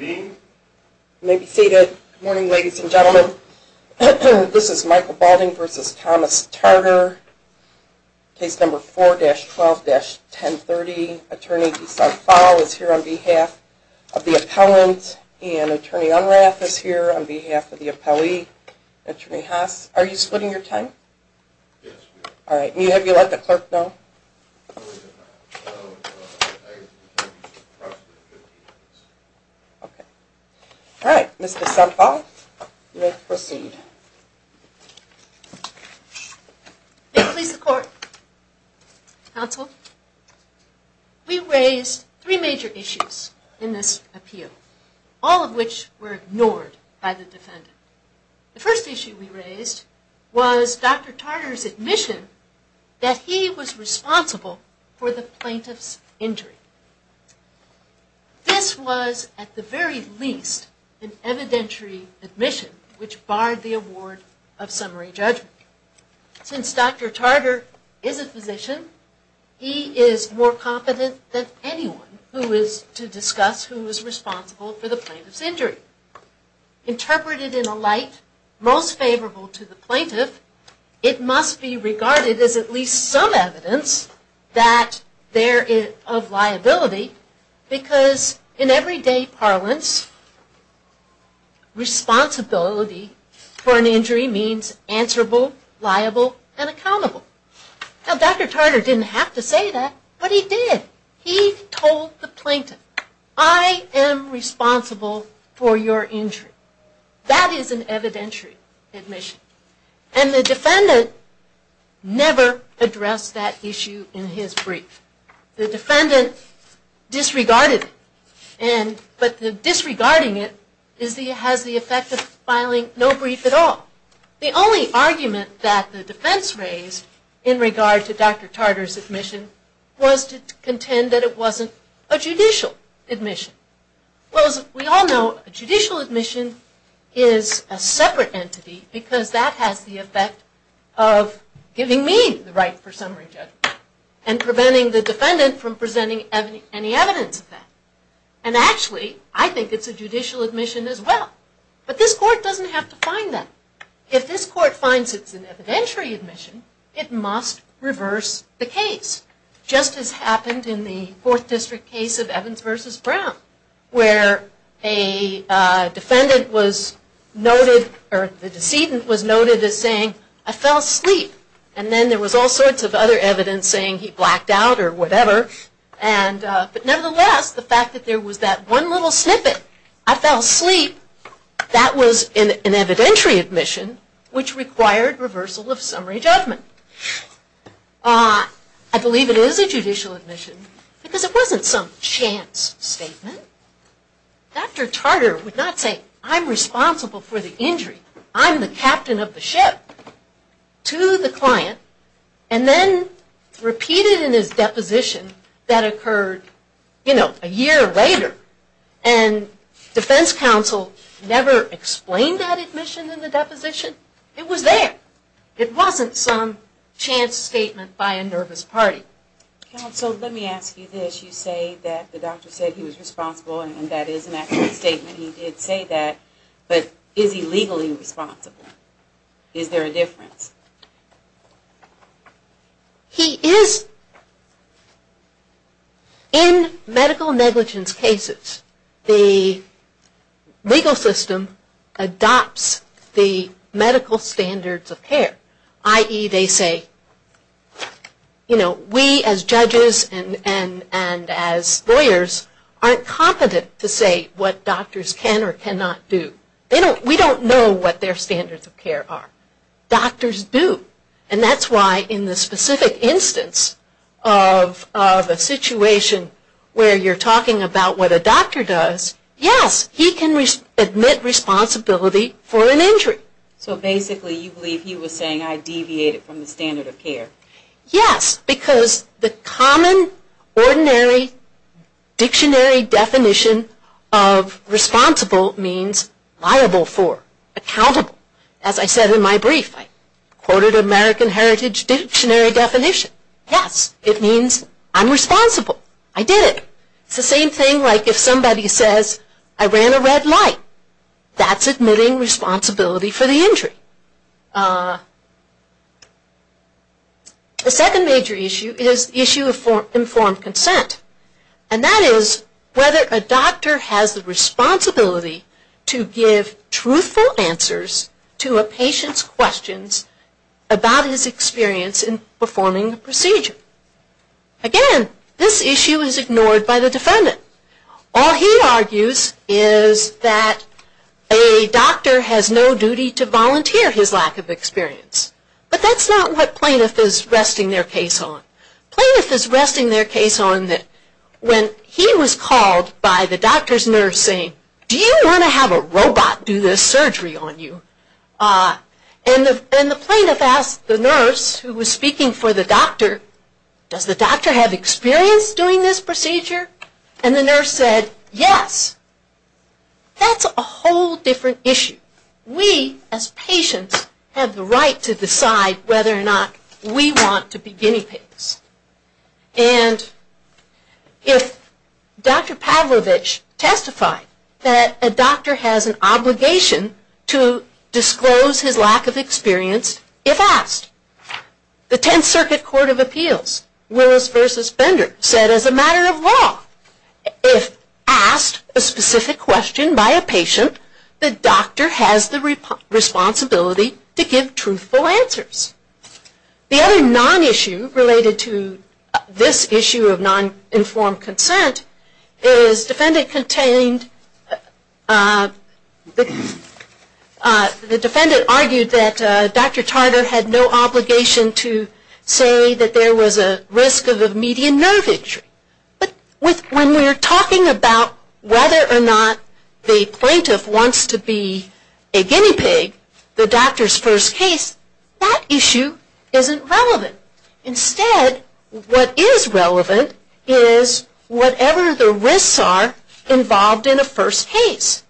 May be seated. Good morning, ladies and gentlemen. This is Michael Balding v. Thomas Tarter, case number 4-12-1030. Attorney DeSant Foll is here on behalf of the appellant, and Attorney Unrath is here on behalf of the appellee. Attorney Haas, are you splitting your time? Yes, we are. All right. Have you let the clerk know? No, we have not. All right. Mr. DeSant Foll, you may proceed. May it please the Court, Counsel, we raised three major issues in this appeal, all of which were ignored by the defendant. The first issue we raised was Dr. Tarter's admission that he was responsible for the plaintiff's injury. This was, at the very least, an evidentiary admission which barred the award of summary judgment. Since Dr. Tarter is a physician, he is more competent than anyone who is to discuss who is responsible for the plaintiff's injury. Interpreted in a light most favorable to the plaintiff, it must be regarded as at least some evidence that there is liability, because in everyday parlance, responsibility for an injury means answerable, liable, and accountable. Now, Dr. Tarter didn't have to say that, but he did. He told the plaintiff, I am responsible for your injury. That is an evidentiary admission. And the defendant never addressed that issue in his brief. The defendant disregarded it, but disregarding it has the effect of filing no brief at all. The only argument that the defense raised in regard to Dr. Tarter's admission was to contend that it wasn't a judicial admission. Well, as we all know, a judicial admission is a separate entity because that has the effect of giving me the right for summary judgment and preventing the defendant from presenting any evidence of that. And actually, I think it's a judicial admission as well. But this court doesn't have to find that. If this court finds it's an evidentiary admission, it must reverse the case, just as happened in the Fourth District case of Evans v. Brown, where a defendant was noted, or the decedent was noted as saying, I fell asleep. And then there was all sorts of other evidence saying he blacked out or whatever. But nevertheless, the fact that there was that one little snippet, I fell asleep, that was an evidentiary admission, which required reversal of summary judgment. I believe it is a judicial admission because it wasn't some chance statement. Dr. Tarter would not say, I'm responsible for the injury. I'm the captain of the ship, to the client, and then repeat it in his deposition that occurred, you know, a year later. And defense counsel never explained that admission in the deposition. It was there. It wasn't some chance statement by a nervous party. Counsel, let me ask you this. You say that the doctor said he was responsible and that is an accurate statement. He did say that, but is he legally responsible? Is there a difference? He is. In medical negligence cases, the legal system adopts the medical standards of care. I.e., they say, you know, we as judges and as lawyers aren't competent to say what doctors can or cannot do. We don't know what their standards of care are. Doctors do. And that's why in the specific instance of a situation where you're talking about what a doctor does, So basically you believe he was saying I deviated from the standard of care. Yes, because the common ordinary dictionary definition of responsible means liable for, accountable. As I said in my brief, I quoted American Heritage dictionary definition. Yes, it means I'm responsible. I did it. It's the same thing like if somebody says, I ran a red light. That's admitting responsibility for the injury. The second major issue is the issue of informed consent. And that is whether a doctor has the responsibility to give truthful answers to a patient's questions about his experience in performing the procedure. Again, this issue is ignored by the defendant. All he argues is that a doctor has no duty to volunteer his lack of experience. But that's not what plaintiff is resting their case on. Plaintiff is resting their case on that when he was called by the doctor's nurse saying, do you want to have a robot do this surgery on you? And the plaintiff asked the nurse who was speaking for the doctor, does the doctor have experience doing this procedure? And the nurse said, yes. That's a whole different issue. We as patients have the right to decide whether or not we want to be guinea pigs. And if Dr. Pavlovich testified that a doctor has an obligation to disclose his lack of experience, if asked, the Tenth Circuit Court of Appeals, Willis v. Bender, said as a matter of law, if asked a specific question by a patient, the doctor has the responsibility to give truthful answers. The other non-issue related to this issue of non-informed consent is defendant contained, the defendant argued that Dr. Tarter had no obligation to say that there was a risk of a median nerve injury. But when we are talking about whether or not the plaintiff wants to be a guinea pig, the doctor's first case, that issue isn't relevant. Instead, what is relevant is whatever the risks are involved in a first case.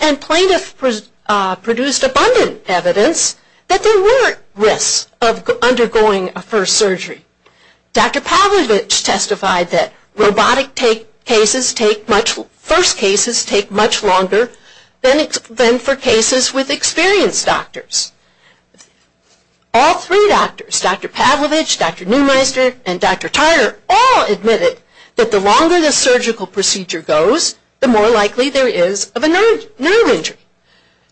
And plaintiff produced abundant evidence that there were risks of undergoing a first surgery. Dr. Pavlovich testified that robotic first cases take much longer than for cases with experienced doctors. All three doctors, Dr. Pavlovich, Dr. Neumeister, and Dr. Tarter all admitted that the longer the surgical procedure goes, the more likely there is of a nerve injury.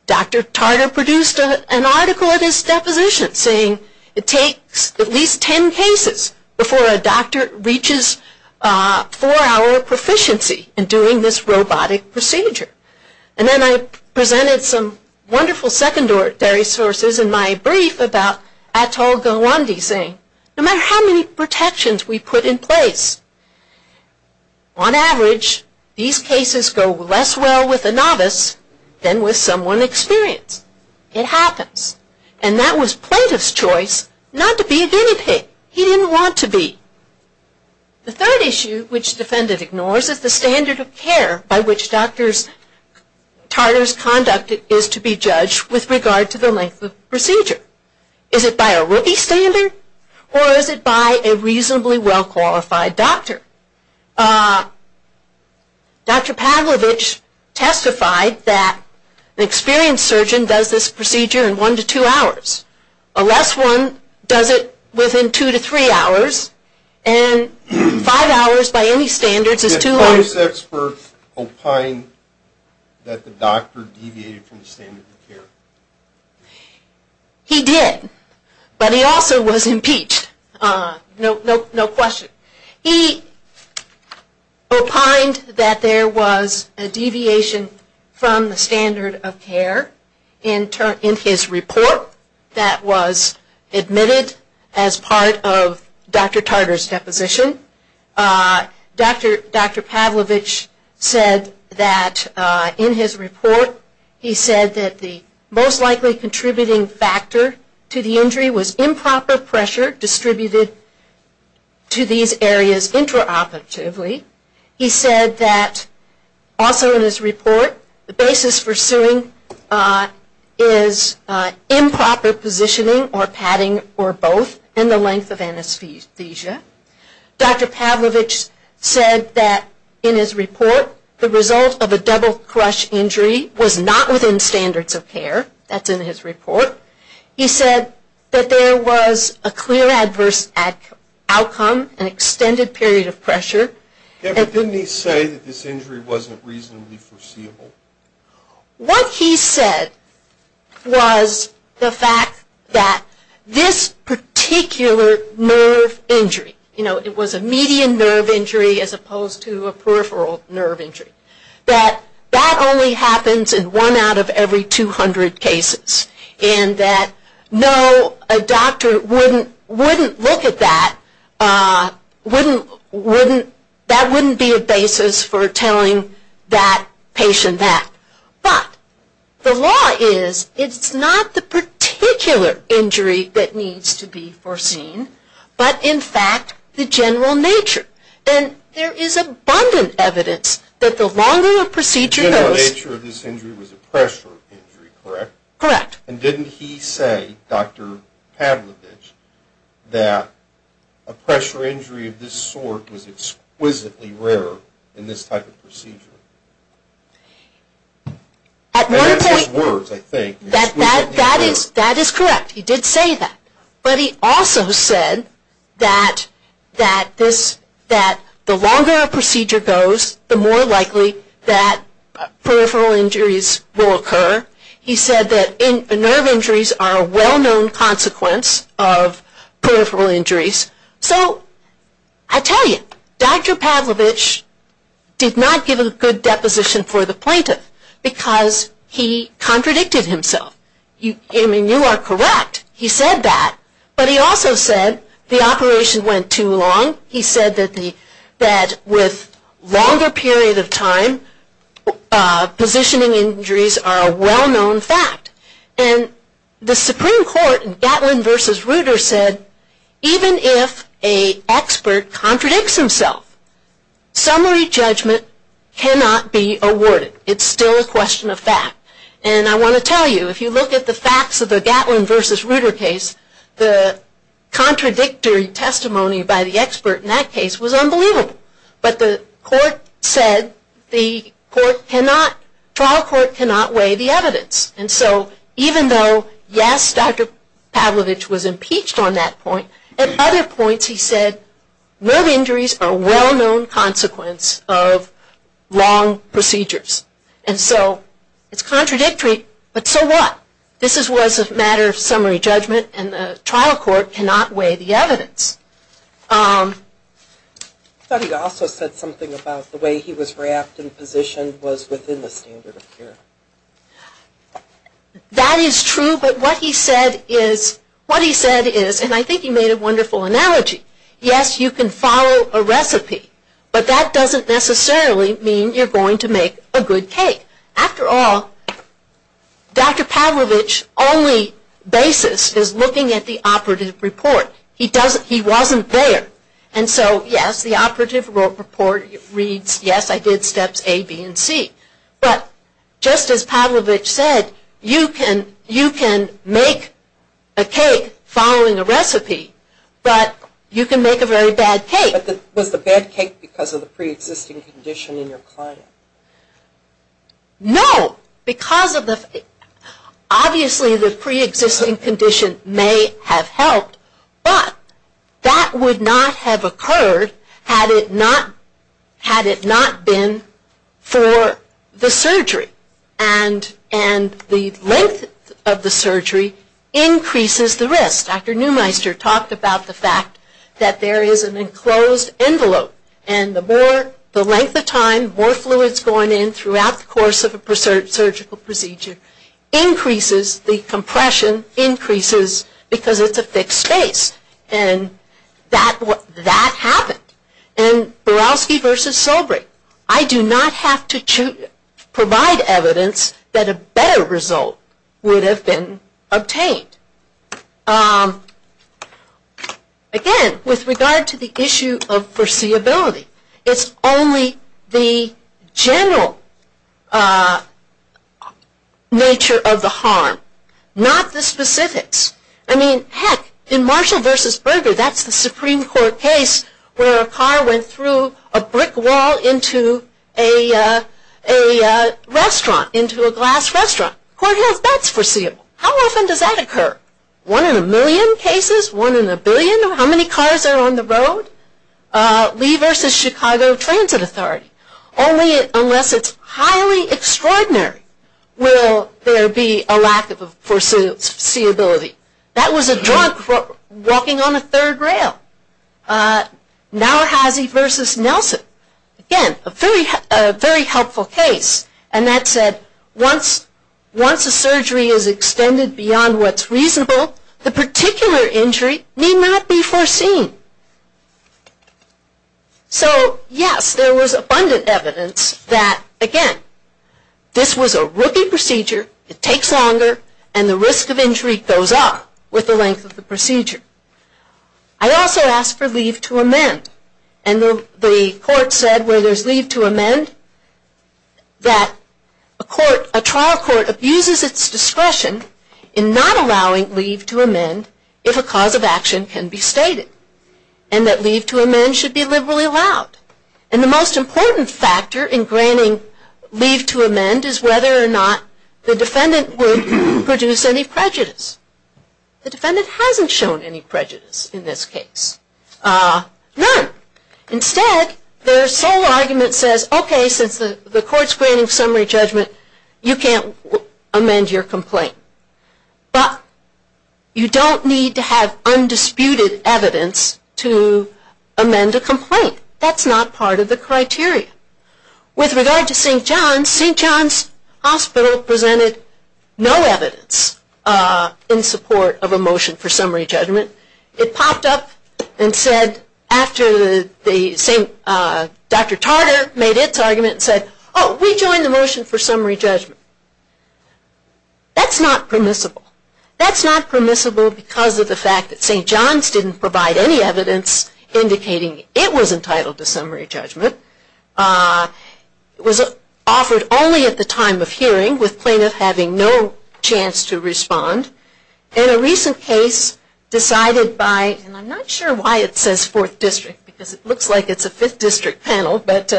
Dr. Tarter produced an article in his deposition saying it takes at least ten cases before a doctor reaches four-hour proficiency in doing this robotic procedure. And then I presented some wonderful secondary sources in my brief about Atol Gawande saying, no matter how many protections we put in place, on average, these cases go less well with a novice than with someone experienced. It happens. And that was plaintiff's choice not to be a guinea pig. He didn't want to be. The third issue which defendant ignores is the standard of care by which Dr. Tarter's conduct is to be judged with regard to the length of procedure. Is it by a rookie standard or is it by a reasonably well-qualified doctor? Dr. Pavlovich testified that an experienced surgeon does this procedure in one to two hours. A less one does it within two to three hours. And five hours by any standards is two hours. Did the process for opine that the doctor deviated from the standard of care? He did. But he also was impeached. No question. He opined that there was a deviation from the standard of care in his report that was admitted as part of Dr. Tarter's deposition. Dr. Pavlovich said that in his report, he said that the most likely contributing factor to the injury was improper pressure distributed to these areas intraoperatively. He said that also in his report, the basis for suing is improper positioning or padding or both and the length of anesthesia. Dr. Pavlovich said that in his report, the result of a double crush injury was not within standards of care. That's in his report. He said that there was a clear adverse outcome, an extended period of pressure. But didn't he say that this injury wasn't reasonably foreseeable? What he said was the fact that this particular nerve injury, you know, it was a median nerve injury as opposed to a peripheral nerve injury. That that only happens in one out of every 200 cases. And that no, a doctor wouldn't look at that, that wouldn't be a basis for telling that patient that. But the law is, it's not the particular injury that needs to be foreseen, but in fact, the general nature. And there is abundant evidence that the longer a procedure goes... The general nature of this injury was a pressure injury, correct? Correct. And didn't he say, Dr. Pavlovich, that a pressure injury of this sort was exquisitely rare in this type of procedure? At one point... In his words, I think. That is correct, he did say that. But he also said that the longer a procedure goes, the more likely that peripheral injuries will occur. He said that nerve injuries are a well-known consequence of peripheral injuries. So I tell you, Dr. Pavlovich did not give a good deposition for the plaintiff because he contradicted himself. I mean, you are correct. He said that. But he also said the operation went too long. He said that with longer period of time, positioning injuries are a well-known fact. And the Supreme Court in Gatlin v. Ruter said, even if an expert contradicts himself, summary judgment cannot be awarded. It's still a question of fact. And I want to tell you, if you look at the facts of the Gatlin v. Ruter case, the contradictory testimony by the expert in that case was unbelievable. But the court said the trial court cannot weigh the evidence. And so even though, yes, Dr. Pavlovich was impeached on that point, at other points he said, nerve injuries are a well-known consequence of wrong procedures. And so it's contradictory, but so what? This was a matter of summary judgment, and the trial court cannot weigh the evidence. I thought he also said something about the way he was wrapped and positioned was within the standard of care. That is true, but what he said is, and I think he made a wonderful analogy, yes, you can follow a recipe, but that doesn't necessarily mean you're going to make a good cake. After all, Dr. Pavlovich's only basis is looking at the operative report. He wasn't there. And so, yes, the operative report reads, yes, I did steps A, B, and C. But just as Pavlovich said, you can make a cake following a recipe, but you can make a very bad cake. But was the bad cake because of the preexisting condition in your client? No, because of the, obviously the preexisting condition may have helped, but that would not have occurred had it not been for the surgery. And the length of the surgery increases the risk. Dr. Neumeister talked about the fact that there is an enclosed envelope, and the more, the length of time, more fluids going in throughout the course of a surgical procedure increases the compression, increases, because it's a fixed space, and that happened. And Borowski versus Solbrick, I do not have to provide evidence that a better result would have been obtained. Again, with regard to the issue of foreseeability, it's only the general nature of the harm, not the specifics. I mean, heck, in Marshall versus Berger, that's the Supreme Court case where a car went through a brick wall into a restaurant, into a glass restaurant. Court has bets foreseeable. How often does that occur? One in a million cases? One in a billion? How many cars are on the road? Lee versus Chicago Transit Authority. Only unless it's highly extraordinary will there be a lack of foreseeability. That was a drunk walking on a third rail. Nowhazzy versus Nelson. Again, a very helpful case. And that said, once a surgery is extended beyond what's reasonable, the particular injury may not be foreseen. So, yes, there was abundant evidence that, again, this was a rookie procedure. It takes longer, and the risk of injury goes up with the length of the procedure. I also asked for leave to amend, and the court said where there's leave to amend, that a trial court abuses its discretion in not allowing leave to amend if a cause of action can be stated. And that leave to amend should be liberally allowed. And the most important factor in granting leave to amend is whether or not the defendant would produce any prejudice. The defendant hasn't shown any prejudice in this case. None. Instead, their sole argument says, okay, since the court's granting summary judgment, you can't amend your complaint. But you don't need to have undisputed evidence to amend a complaint. That's not part of the criteria. With regard to St. John's, St. John's Hospital presented no evidence in support of a motion for summary judgment. It popped up and said, after Dr. Tarder made its argument, it said, oh, we join the motion for summary judgment. That's not permissible. That's not permissible because of the fact that St. John's didn't provide any evidence indicating it was entitled to summary judgment. It was offered only at the time of hearing, with plaintiff having no chance to respond. In a recent case decided by, and I'm not sure why it says 4th District, because it looks like it's a 5th District panel, but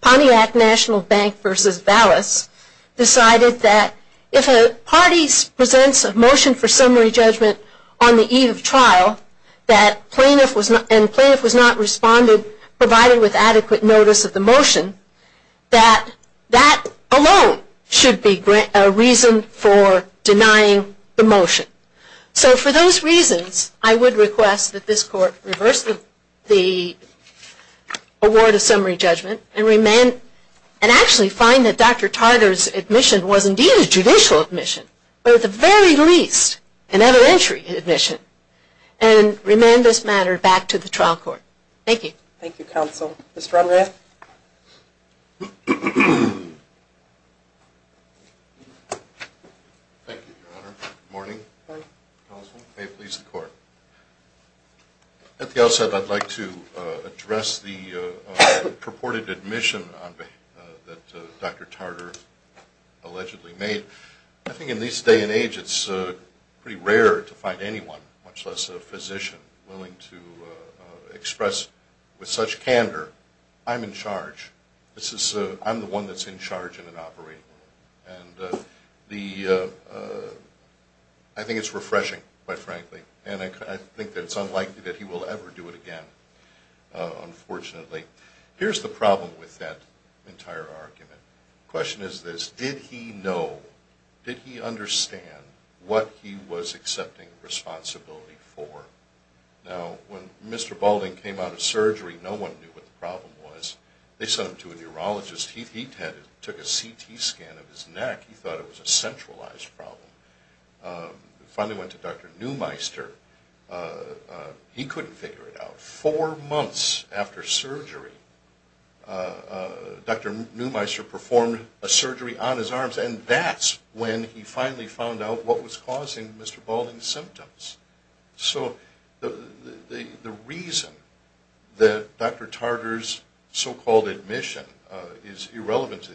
Pontiac National Bank v. Vallis decided that if a party presents a motion for summary judgment on the eve of trial and plaintiff was not responded, provided with adequate notice of the motion, that that alone should be a reason for denying the motion. So for those reasons, I would request that this Court reverse the award of summary judgment and actually find that Dr. Tarder's admission was indeed a judicial admission, but at the very least an evidentiary admission, and remand this matter back to the trial court. Thank you. Thank you, counsel. Mr. Romerath? Thank you, Your Honor. Good morning. Good morning, counsel. May it please the Court. At the outset, I'd like to address the purported admission that Dr. Tarder allegedly made. I think in this day and age it's pretty rare to find anyone, much less a physician, willing to express with such candor. I'm in charge. I'm the one that's in charge in an operating room, and I think it's refreshing, quite frankly, and I think that it's unlikely that he will ever do it again, unfortunately. Here's the problem with that entire argument. The question is this. Did he know, did he understand what he was accepting responsibility for? Now, when Mr. Balding came out of surgery, no one knew what the problem was. They sent him to a neurologist. He took a CT scan of his neck. He thought it was a centralized problem. He finally went to Dr. Neumeister. He couldn't figure it out. Four months after surgery, Dr. Neumeister performed a surgery on his arms, and that's when he finally found out what was causing Mr. Balding's symptoms. So the reason that Dr. Tarder's so-called admission is irrelevant to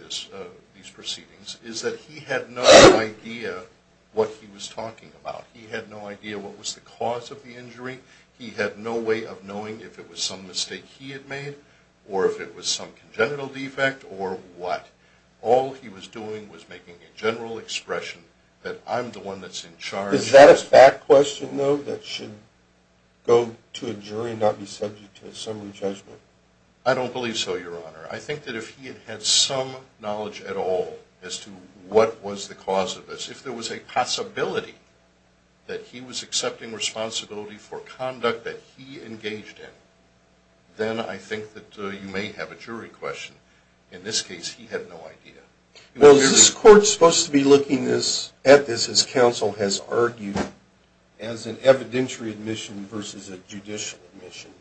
these proceedings is that he had no idea what he was talking about. He had no idea what was the cause of the injury. He had no way of knowing if it was some mistake he had made or if it was some congenital defect or what. All he was doing was making a general expression that I'm the one that's in charge. Is that a fact question, though, that should go to a jury and not be subject to a summary judgment? I don't believe so, Your Honor. I think that if he had had some knowledge at all as to what was the cause of this, if there was a possibility that he was accepting responsibility for conduct that he engaged in, then I think that you may have a jury question. In this case, he had no idea. Well, is this court supposed to be looking at this as counsel has argued, as an evidentiary admission versus a judicial admission?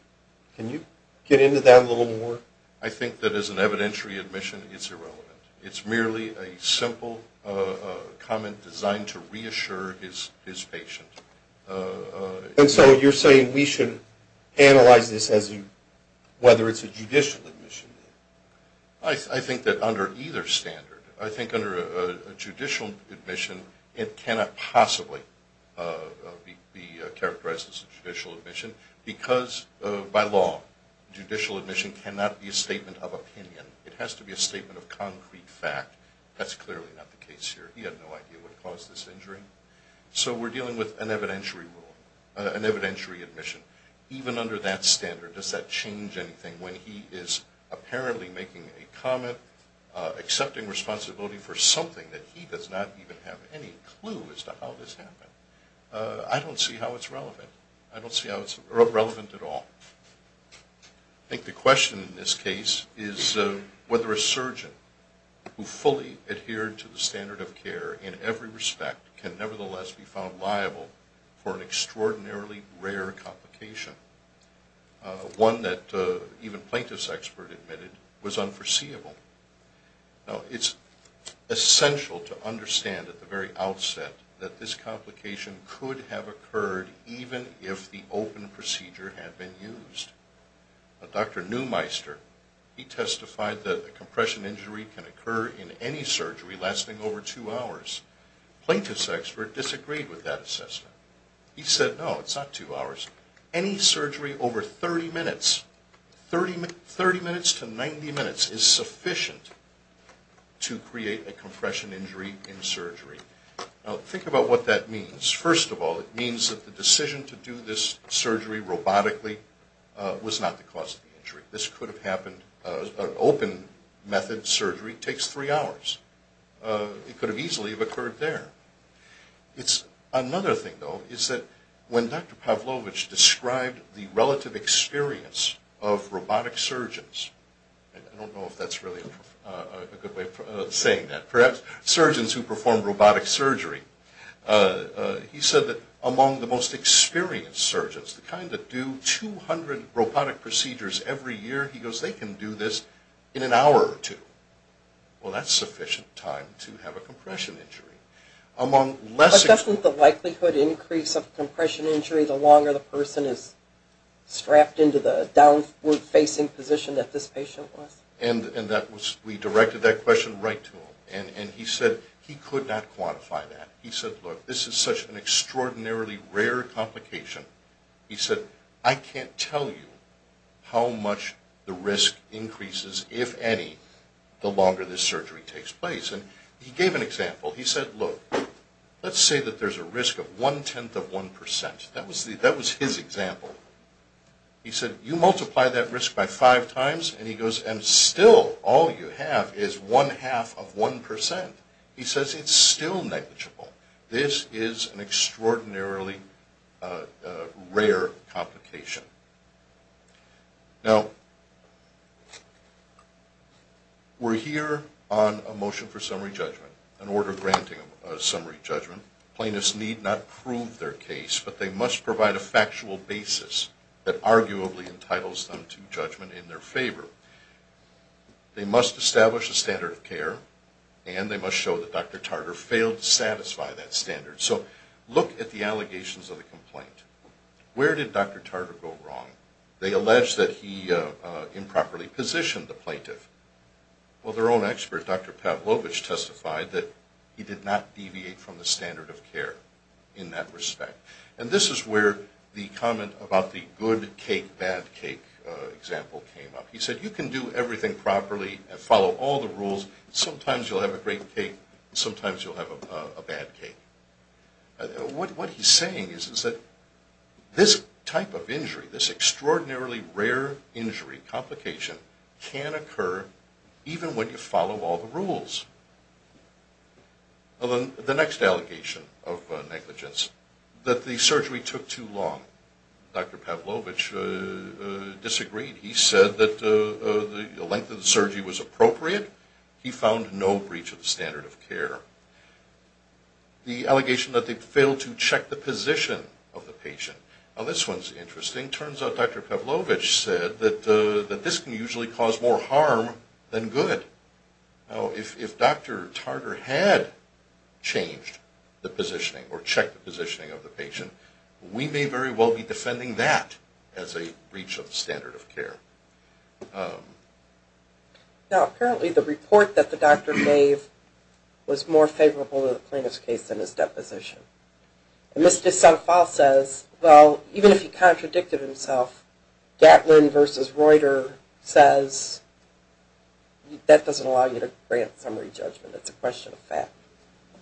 Can you get into that a little more? I think that as an evidentiary admission, it's irrelevant. It's merely a simple comment designed to reassure his patient. And so you're saying we should analyze this as whether it's a judicial admission? I think that under either standard. I think under a judicial admission, it cannot possibly be characterized as a judicial admission because by law, judicial admission cannot be a statement of opinion. It has to be a statement of concrete fact. That's clearly not the case here. He had no idea what caused this injury. So we're dealing with an evidentiary rule, an evidentiary admission. Even under that standard, does that change anything when he is apparently making a comment, accepting responsibility for something that he does not even have any clue as to how this happened? I don't see how it's relevant. I don't see how it's relevant at all. I think the question in this case is whether a surgeon who fully adhered to the standard of care in every respect can nevertheless be found liable for an extraordinarily rare complication, one that even plaintiff's expert admitted was unforeseeable. Now, it's essential to understand at the very outset that this complication could have occurred even if the open procedure had been used. Dr. Neumeister, he testified that a compression injury can occur in any surgery lasting over two hours. Plaintiff's expert disagreed with that assessment. He said, no, it's not two hours. Any surgery over 30 minutes, 30 minutes to 90 minutes is sufficient to create a compression injury in surgery. Now, think about what that means. First of all, it means that the decision to do this surgery robotically was not the cause of the injury. This could have happened, an open method surgery takes three hours. It could have easily occurred there. Another thing, though, is that when Dr. Pavlovich described the relative experience of robotic surgeons, I don't know if that's really a good way of saying that. Perhaps surgeons who perform robotic surgery. He said that among the most experienced surgeons, the kind that do 200 robotic procedures every year, he goes, they can do this in an hour or two. Well, that's sufficient time to have a compression injury. But doesn't the likelihood increase of compression injury the longer the person is strapped into the downward-facing position that this patient was? And we directed that question right to him. And he said he could not quantify that. He said, look, this is such an extraordinarily rare complication. He said, I can't tell you how much the risk increases, if any, the longer this surgery takes place. And he gave an example. He said, look, let's say that there's a risk of one-tenth of one percent. That was his example. He said, you multiply that risk by five times, and he goes, and still all you have is one-half of one percent. He says it's still negligible. This is an extraordinarily rare complication. Now, we're here on a motion for summary judgment, an order granting a summary judgment. Plaintiffs need not prove their case, but they must provide a factual basis that arguably entitles them to judgment in their favor. They must establish a standard of care, and they must show that Dr. Tartar failed to satisfy that standard. So look at the allegations of the complaint. Where did Dr. Tartar go wrong? They allege that he improperly positioned the plaintiff. Well, their own expert, Dr. Pavlovich, testified that he did not deviate from the standard of care in that respect. And this is where the comment about the good cake, bad cake example came up. He said, you can do everything properly and follow all the rules. Sometimes you'll have a great cake, and sometimes you'll have a bad cake. What he's saying is that this type of injury, this extraordinarily rare injury complication, can occur even when you follow all the rules. The next allegation of negligence, that the surgery took too long. Dr. Pavlovich disagreed. He said that the length of the surgery was appropriate. He found no breach of the standard of care. The allegation that they failed to check the position of the patient. Now this one's interesting. Turns out Dr. Pavlovich said that this can usually cause more harm than good. Now if Dr. Tartar had changed the positioning or checked the positioning of the patient, we may very well be defending that as a breach of the standard of care. Now apparently the report that the doctor gave was more favorable to the plaintiff's case than his deposition. And Mr. D'Souza says, well, even if he contradicted himself, Gatlin versus Reuter says, that doesn't allow you to grant summary judgment. It's a question of fact.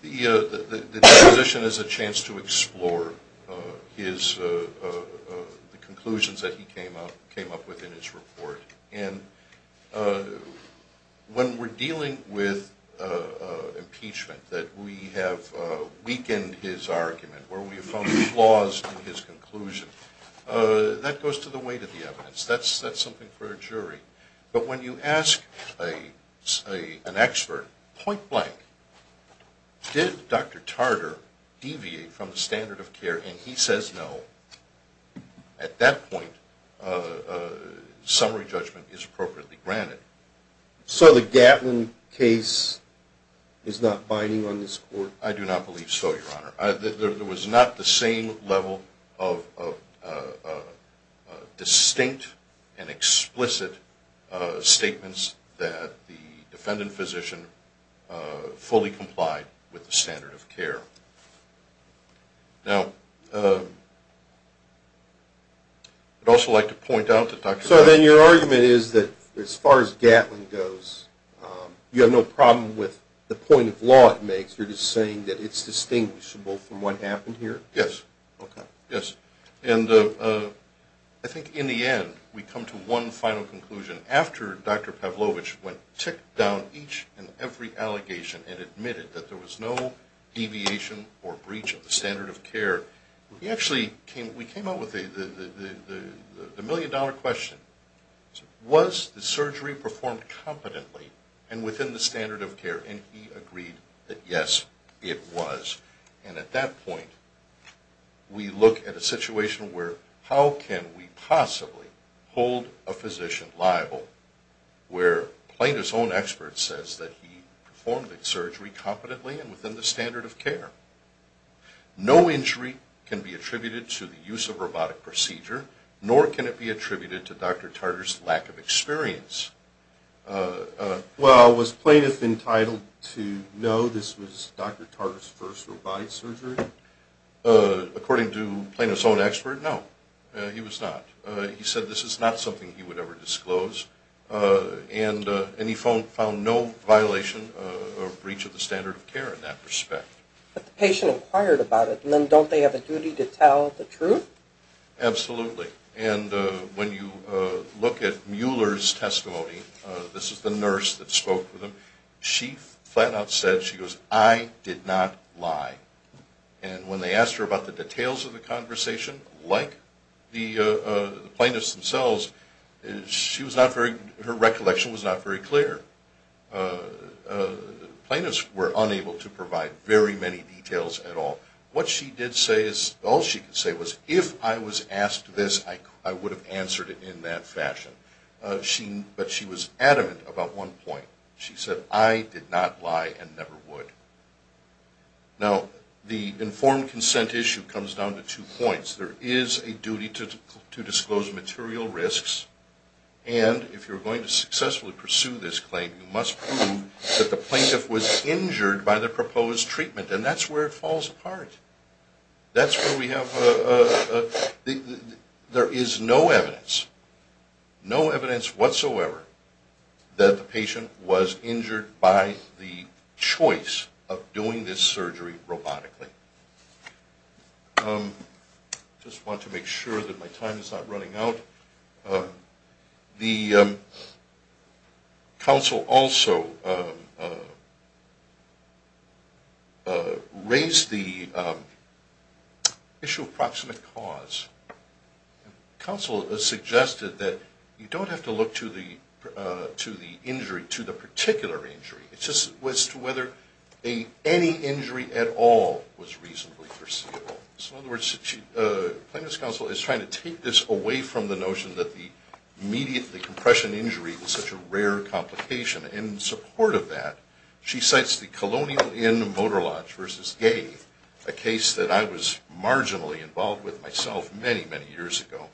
The deposition is a chance to explore the conclusions that he came up with in his report. And when we're dealing with impeachment, that we have weakened his argument, where we have found flaws in his conclusion, that goes to the weight of the evidence. That's something for a jury. But when you ask an expert point blank, did Dr. Tartar deviate from the standard of care, and he says no, at that point summary judgment is appropriately granted. So the Gatlin case is not binding on this court? I do not believe so, Your Honor. There was not the same level of distinct and explicit statements that the defendant physician fully complied with the standard of care. Now I'd also like to point out that Dr. Tartar So then your argument is that as far as Gatlin goes, you have no problem with the point of law it makes. You're just saying that it's distinguishable from what happened here? Yes. Okay. Yes. And I think in the end we come to one final conclusion. After Dr. Pavlovich went ticked down each and every allegation and admitted that there was no deviation or breach of the standard of care, we actually came up with the million dollar question. Was the surgery performed competently and within the standard of care? And he agreed that yes, it was. And at that point we look at a situation where how can we possibly hold a physician liable where plaintiff's own expert says that he performed the surgery competently and within the standard of care? No injury can be attributed to the use of robotic procedure, nor can it be attributed to Dr. Tartar's lack of experience. Well, was plaintiff entitled to know this was Dr. Tartar's first robotic surgery? According to plaintiff's own expert, no, he was not. He said this is not something he would ever disclose, and he found no violation or breach of the standard of care in that respect. But the patient inquired about it, and then don't they have a duty to tell the truth? Absolutely. And when you look at Mueller's testimony, this is the nurse that spoke with him, she flat out said, she goes, I did not lie. And when they asked her about the details of the conversation, like the plaintiffs themselves, her recollection was not very clear. The plaintiffs were unable to provide very many details at all. What she did say is, all she could say was, if I was asked this, I would have answered it in that fashion. But she was adamant about one point. She said, I did not lie and never would. Now, the informed consent issue comes down to two points. There is a duty to disclose material risks, and if you're going to successfully pursue this claim, you must prove that the plaintiff was injured by the proposed treatment, and that's where it falls apart. That's where we have, there is no evidence, no evidence whatsoever, that the patient was injured by the choice of doing this surgery robotically. I just want to make sure that my time is not running out. The counsel also raised the issue of proximate cause. The counsel suggested that you don't have to look to the injury, to the particular injury. It's just as to whether any injury at all was reasonably foreseeable. So in other words, the plaintiff's counsel is trying to take this away from the notion that the immediate compression injury is such a rare complication. In support of that, she cites the Colonial Inn Motor Lodge v. Gay, a case that I was marginally involved with myself many, many years ago.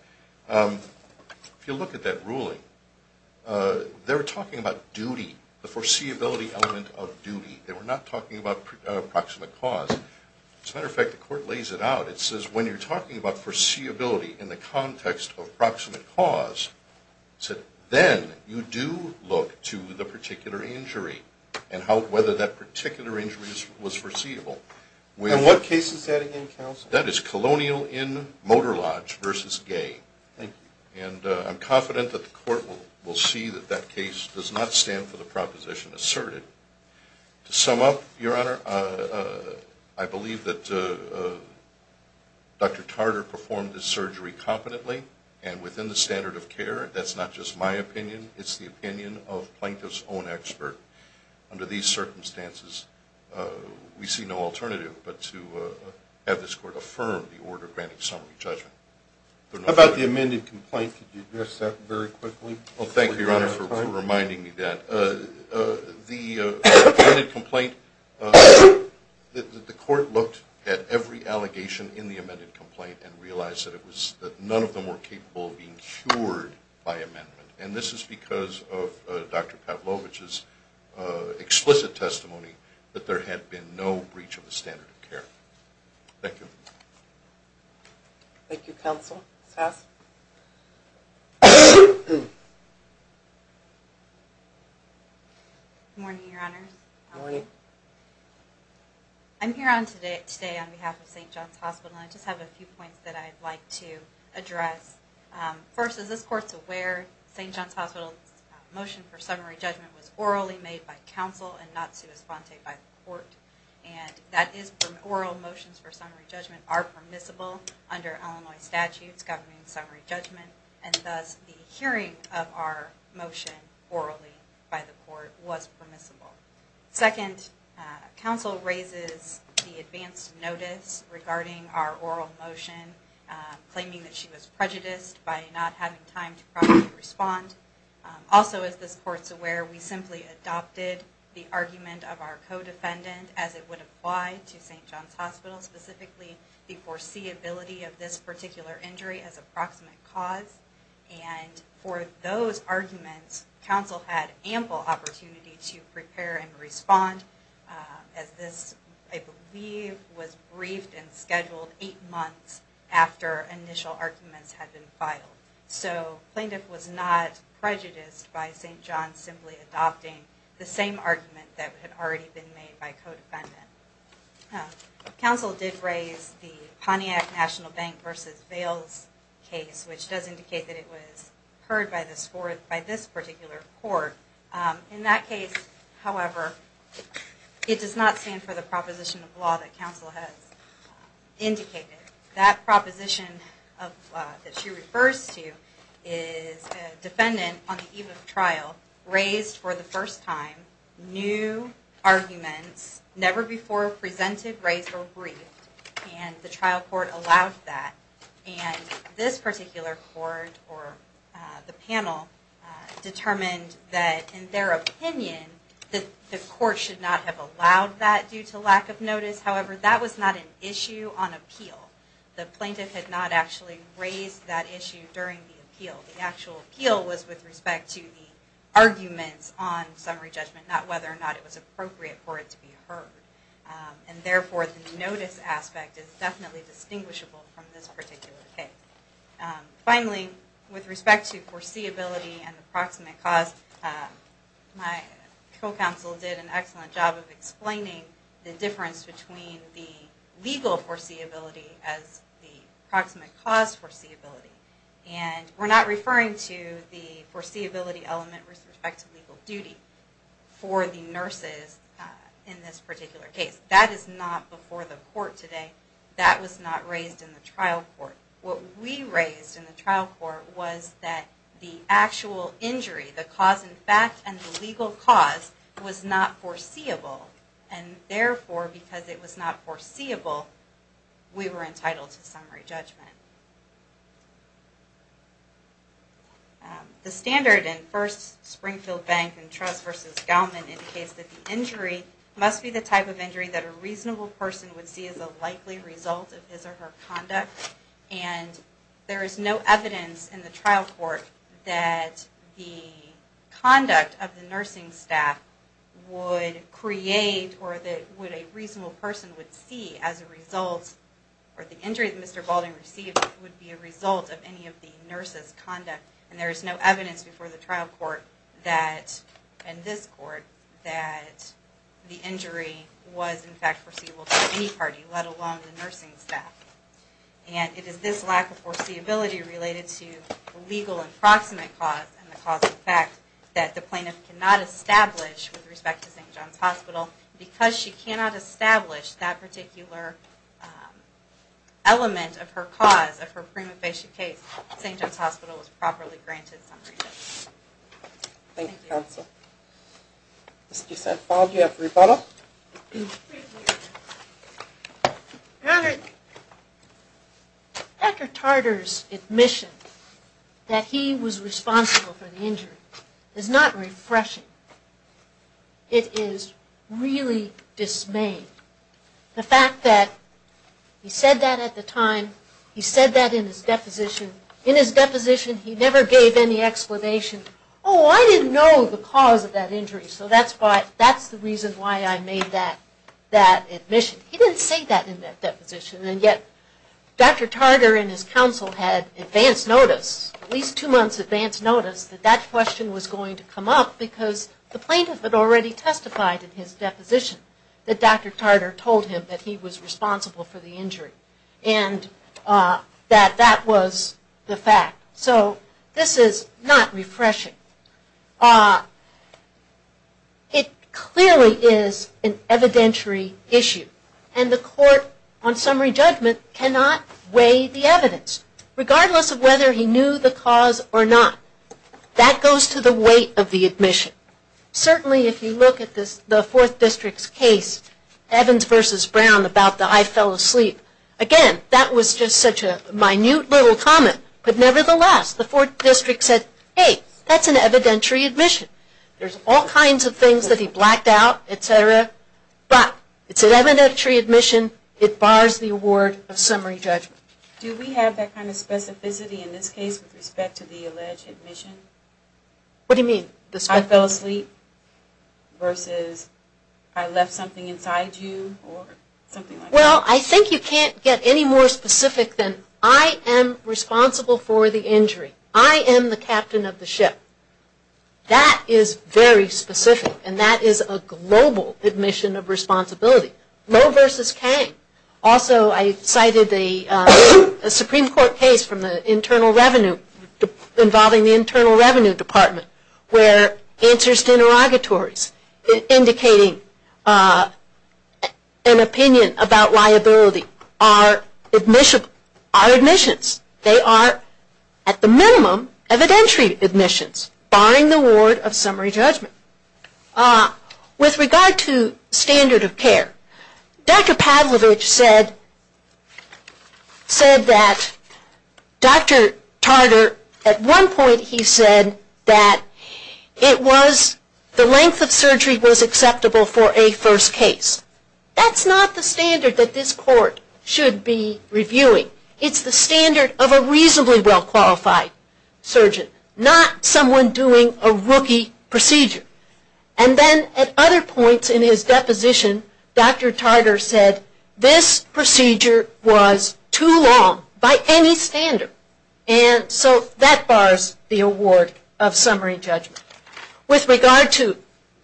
If you look at that ruling, they were talking about duty, the foreseeability element of duty. They were not talking about proximate cause. As a matter of fact, the court lays it out. It says when you're talking about foreseeability in the context of proximate cause, then you do look to the particular injury and whether that particular injury was foreseeable. And what case is that again, counsel? That is Colonial Inn Motor Lodge v. Gay. Thank you. And I'm confident that the court will see that that case does not stand for the proposition asserted. To sum up, Your Honor, I believe that Dr. Tarter performed this surgery competently and within the standard of care. That's not just my opinion. It's the opinion of plaintiff's own expert. Under these circumstances, we see no alternative but to have this court affirm the order granting summary judgment. How about the amended complaint? Could you address that very quickly? Thank you, Your Honor, for reminding me of that. The amended complaint, the court looked at every allegation in the amended complaint and realized that none of them were capable of being cured by amendment. And this is because of Dr. Pavlovich's explicit testimony that there had been no breach of the standard of care. Thank you. Thank you, counsel. Seth? Good morning, Your Honors. Good morning. I'm here today on behalf of St. John's Hospital, and I just have a few points that I'd like to address. First, as this court's aware, St. John's Hospital's motion for summary judgment was orally made by counsel and not sui sponte by the court. Oral motions for summary judgment are permissible under Illinois statutes governing summary judgment, and thus the hearing of our motion orally by the court was permissible. Second, counsel raises the advance notice regarding our oral motion claiming that she was prejudiced by not having time to properly respond. Also, as this court's aware, we simply adopted the argument of our co-defendant as it would apply to St. John's Hospital, specifically the foreseeability of this particular injury as a proximate cause. And for those arguments, counsel had ample opportunity to prepare and respond, as this, I believe, was briefed and scheduled eight months after initial arguments had been filed. So plaintiff was not prejudiced by St. John's simply adopting the same argument that had already been made by co-defendant. Counsel did raise the Pontiac National Bank v. Vail's case, which does indicate that it was heard by this particular court. In that case, however, it does not stand for the proposition of law that counsel has indicated. That proposition that she refers to is a defendant on the eve of trial raised for the first time new arguments never before presented, raised, or briefed, and the trial court allowed that. And this particular court or the panel determined that, in their opinion, the court should not have allowed that due to lack of notice. However, that was not an issue on appeal. The plaintiff had not actually raised that issue during the appeal. The actual appeal was with respect to the arguments on summary judgment, not whether or not it was appropriate for it to be heard. And therefore, the notice aspect is definitely distinguishable from this particular case. Finally, with respect to foreseeability and the proximate cause, my co-counsel did an excellent job of explaining the difference between the legal foreseeability as the proximate cause foreseeability. And we're not referring to the foreseeability element with respect to legal duty for the nurses in this particular case. That is not before the court today. That was not raised in the trial court. What we raised in the trial court was that the actual injury, the cause in fact, and the legal cause was not foreseeable. And therefore, because it was not foreseeable, we were entitled to summary judgment. The standard in First Springfield Bank and Trust v. Gaumann indicates that the injury must be the type of injury that a reasonable person would see as a likely result of his or her conduct. And there is no evidence in the trial court that the conduct of the nursing staff would create or that what a reasonable person would see as a result or the injury that Mr. Balding received would be a result of any of the nurses' conduct. And there is no evidence before the trial court that, and this court, that the injury was in fact foreseeable to any party, let alone the nursing staff. And it is this lack of foreseeability related to the legal and proximate cause and the cause in fact that the plaintiff cannot establish with respect to St. John's Hospital. Because she cannot establish that particular element of her cause of her prima facie case, St. John's Hospital was properly granted summary judgment. Thank you, counsel. Mr. St. Paul, do you have a rebuttal? Thank you. Dr. Tartar's admission that he was responsible for the injury is not refreshing. It is really dismaying. The fact that he said that at the time, he said that in his deposition, in his deposition he never gave any explanation. Oh, I didn't know the cause of that injury, so that's the reason why I made that admission. He didn't say that in that deposition, and yet Dr. Tartar and his counsel had advance notice, at least two months advance notice, that that question was going to come up because the plaintiff had already testified in his deposition that Dr. Tartar told him that he was responsible for the injury. And that that was the fact. So this is not refreshing. It clearly is an evidentiary issue, and the court on summary judgment cannot weigh the evidence, regardless of whether he knew the cause or not. That goes to the weight of the admission. Certainly if you look at the Fourth District's case, Evans v. Brown, about the I fell asleep, again, that was just such a minute little comment. Nevertheless, the Fourth District said, hey, that's an evidentiary admission. There's all kinds of things that he blacked out, etc., but it's an evidentiary admission. It bars the award of summary judgment. Do we have that kind of specificity in this case with respect to the alleged admission? What do you mean? I fell asleep versus I left something inside you? Well, I think you can't get any more specific than I am responsible for the injury. I am the captain of the ship. That is very specific, and that is a global admission of responsibility. Moe v. Kang. Also, I cited a Supreme Court case involving the Internal Revenue Department, where answers to interrogatories indicating an opinion about liability are admissions. They are, at the minimum, evidentiary admissions, barring the award of summary judgment. With regard to standard of care, Dr. Pavlovich said that Dr. Tarter, at one point, he said that the length of surgery was acceptable for a first case. That's not the standard that this Court should be reviewing. It's the standard of a reasonably well-qualified surgeon, not someone doing a rookie procedure. At other points in his deposition, Dr. Tarter said this procedure was too long by any standard. That bars the award of summary judgment. With regard to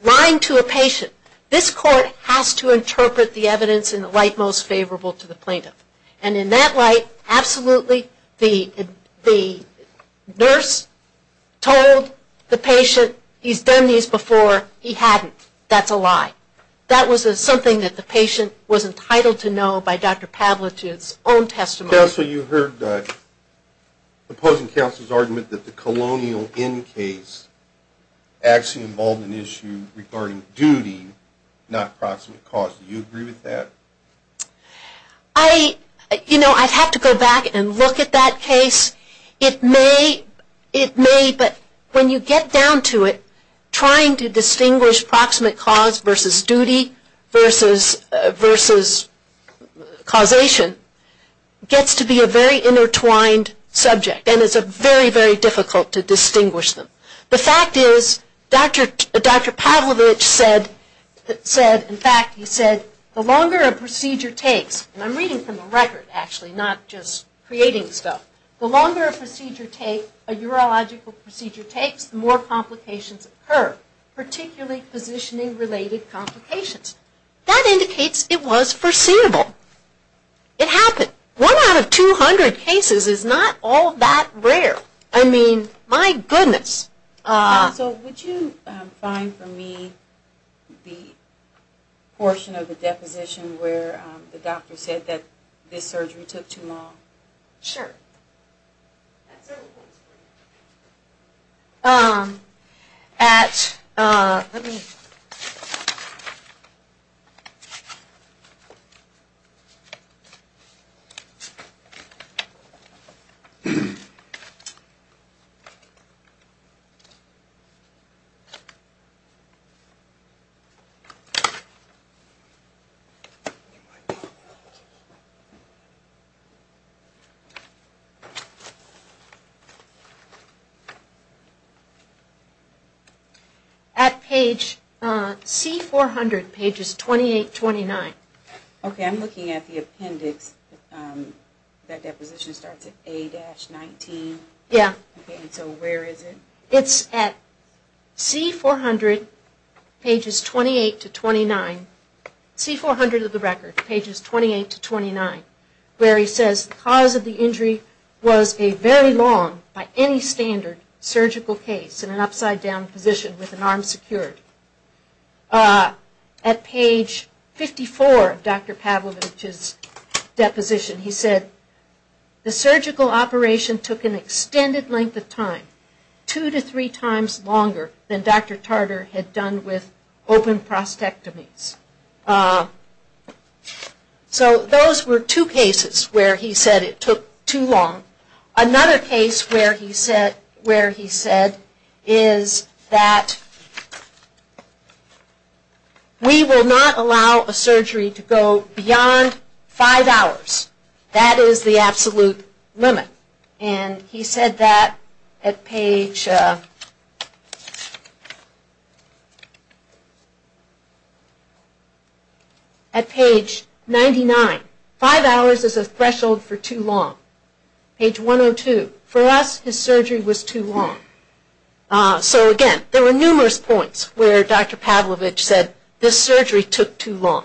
lying to a patient, this Court has to interpret the evidence in the light most favorable to the plaintiff. And in that light, absolutely, the nurse told the patient he's done these before, he hadn't. That's a lie. That was something that the patient was entitled to know by Dr. Pavlovich's own testimony. Counsel, you heard the opposing counsel's argument that the colonial end case actually involved an issue regarding duty, not proximate cause. Do you agree with that? You know, I'd have to go back and look at that case. It may, but when you get down to it, trying to distinguish proximate cause versus duty versus causation gets to be a very intertwined subject. And it's very, very difficult to distinguish them. The fact is, Dr. Pavlovich said, in fact, he said, the longer a procedure takes, and I'm reading from the record, actually, not just creating stuff, the longer a procedure takes, a urological procedure takes, the more complications occur, particularly positioning-related complications. That indicates it was foreseeable. It happened. One out of 200 cases is not all that rare. I mean, my goodness. So would you find for me the portion of the deposition where the doctor said that this surgery took too long? Sure. At page C400, pages 28-29. Okay, I'm looking at the appendix. That deposition starts at A-19. Yeah. Okay, so where is it? It's at C400, pages 28-29. C400 of the record, pages 28-29, where he says the cause of the injury was a very long, by any standard, surgical case in an upside-down position with an arm secured. At page 54 of Dr. Pavlovich's deposition, he said, the surgical operation took an extended length of time, two to three times longer than Dr. Tarter had done with open prostectomies. So those were two cases where he said it took too long. Another case where he said is that we will not allow a surgery to go beyond five hours. That is the absolute limit. And he said that at page 99. Five hours is a threshold for too long. Page 102. For us, his surgery was too long. So again, there were numerous points where Dr. Pavlovich said this surgery took too long.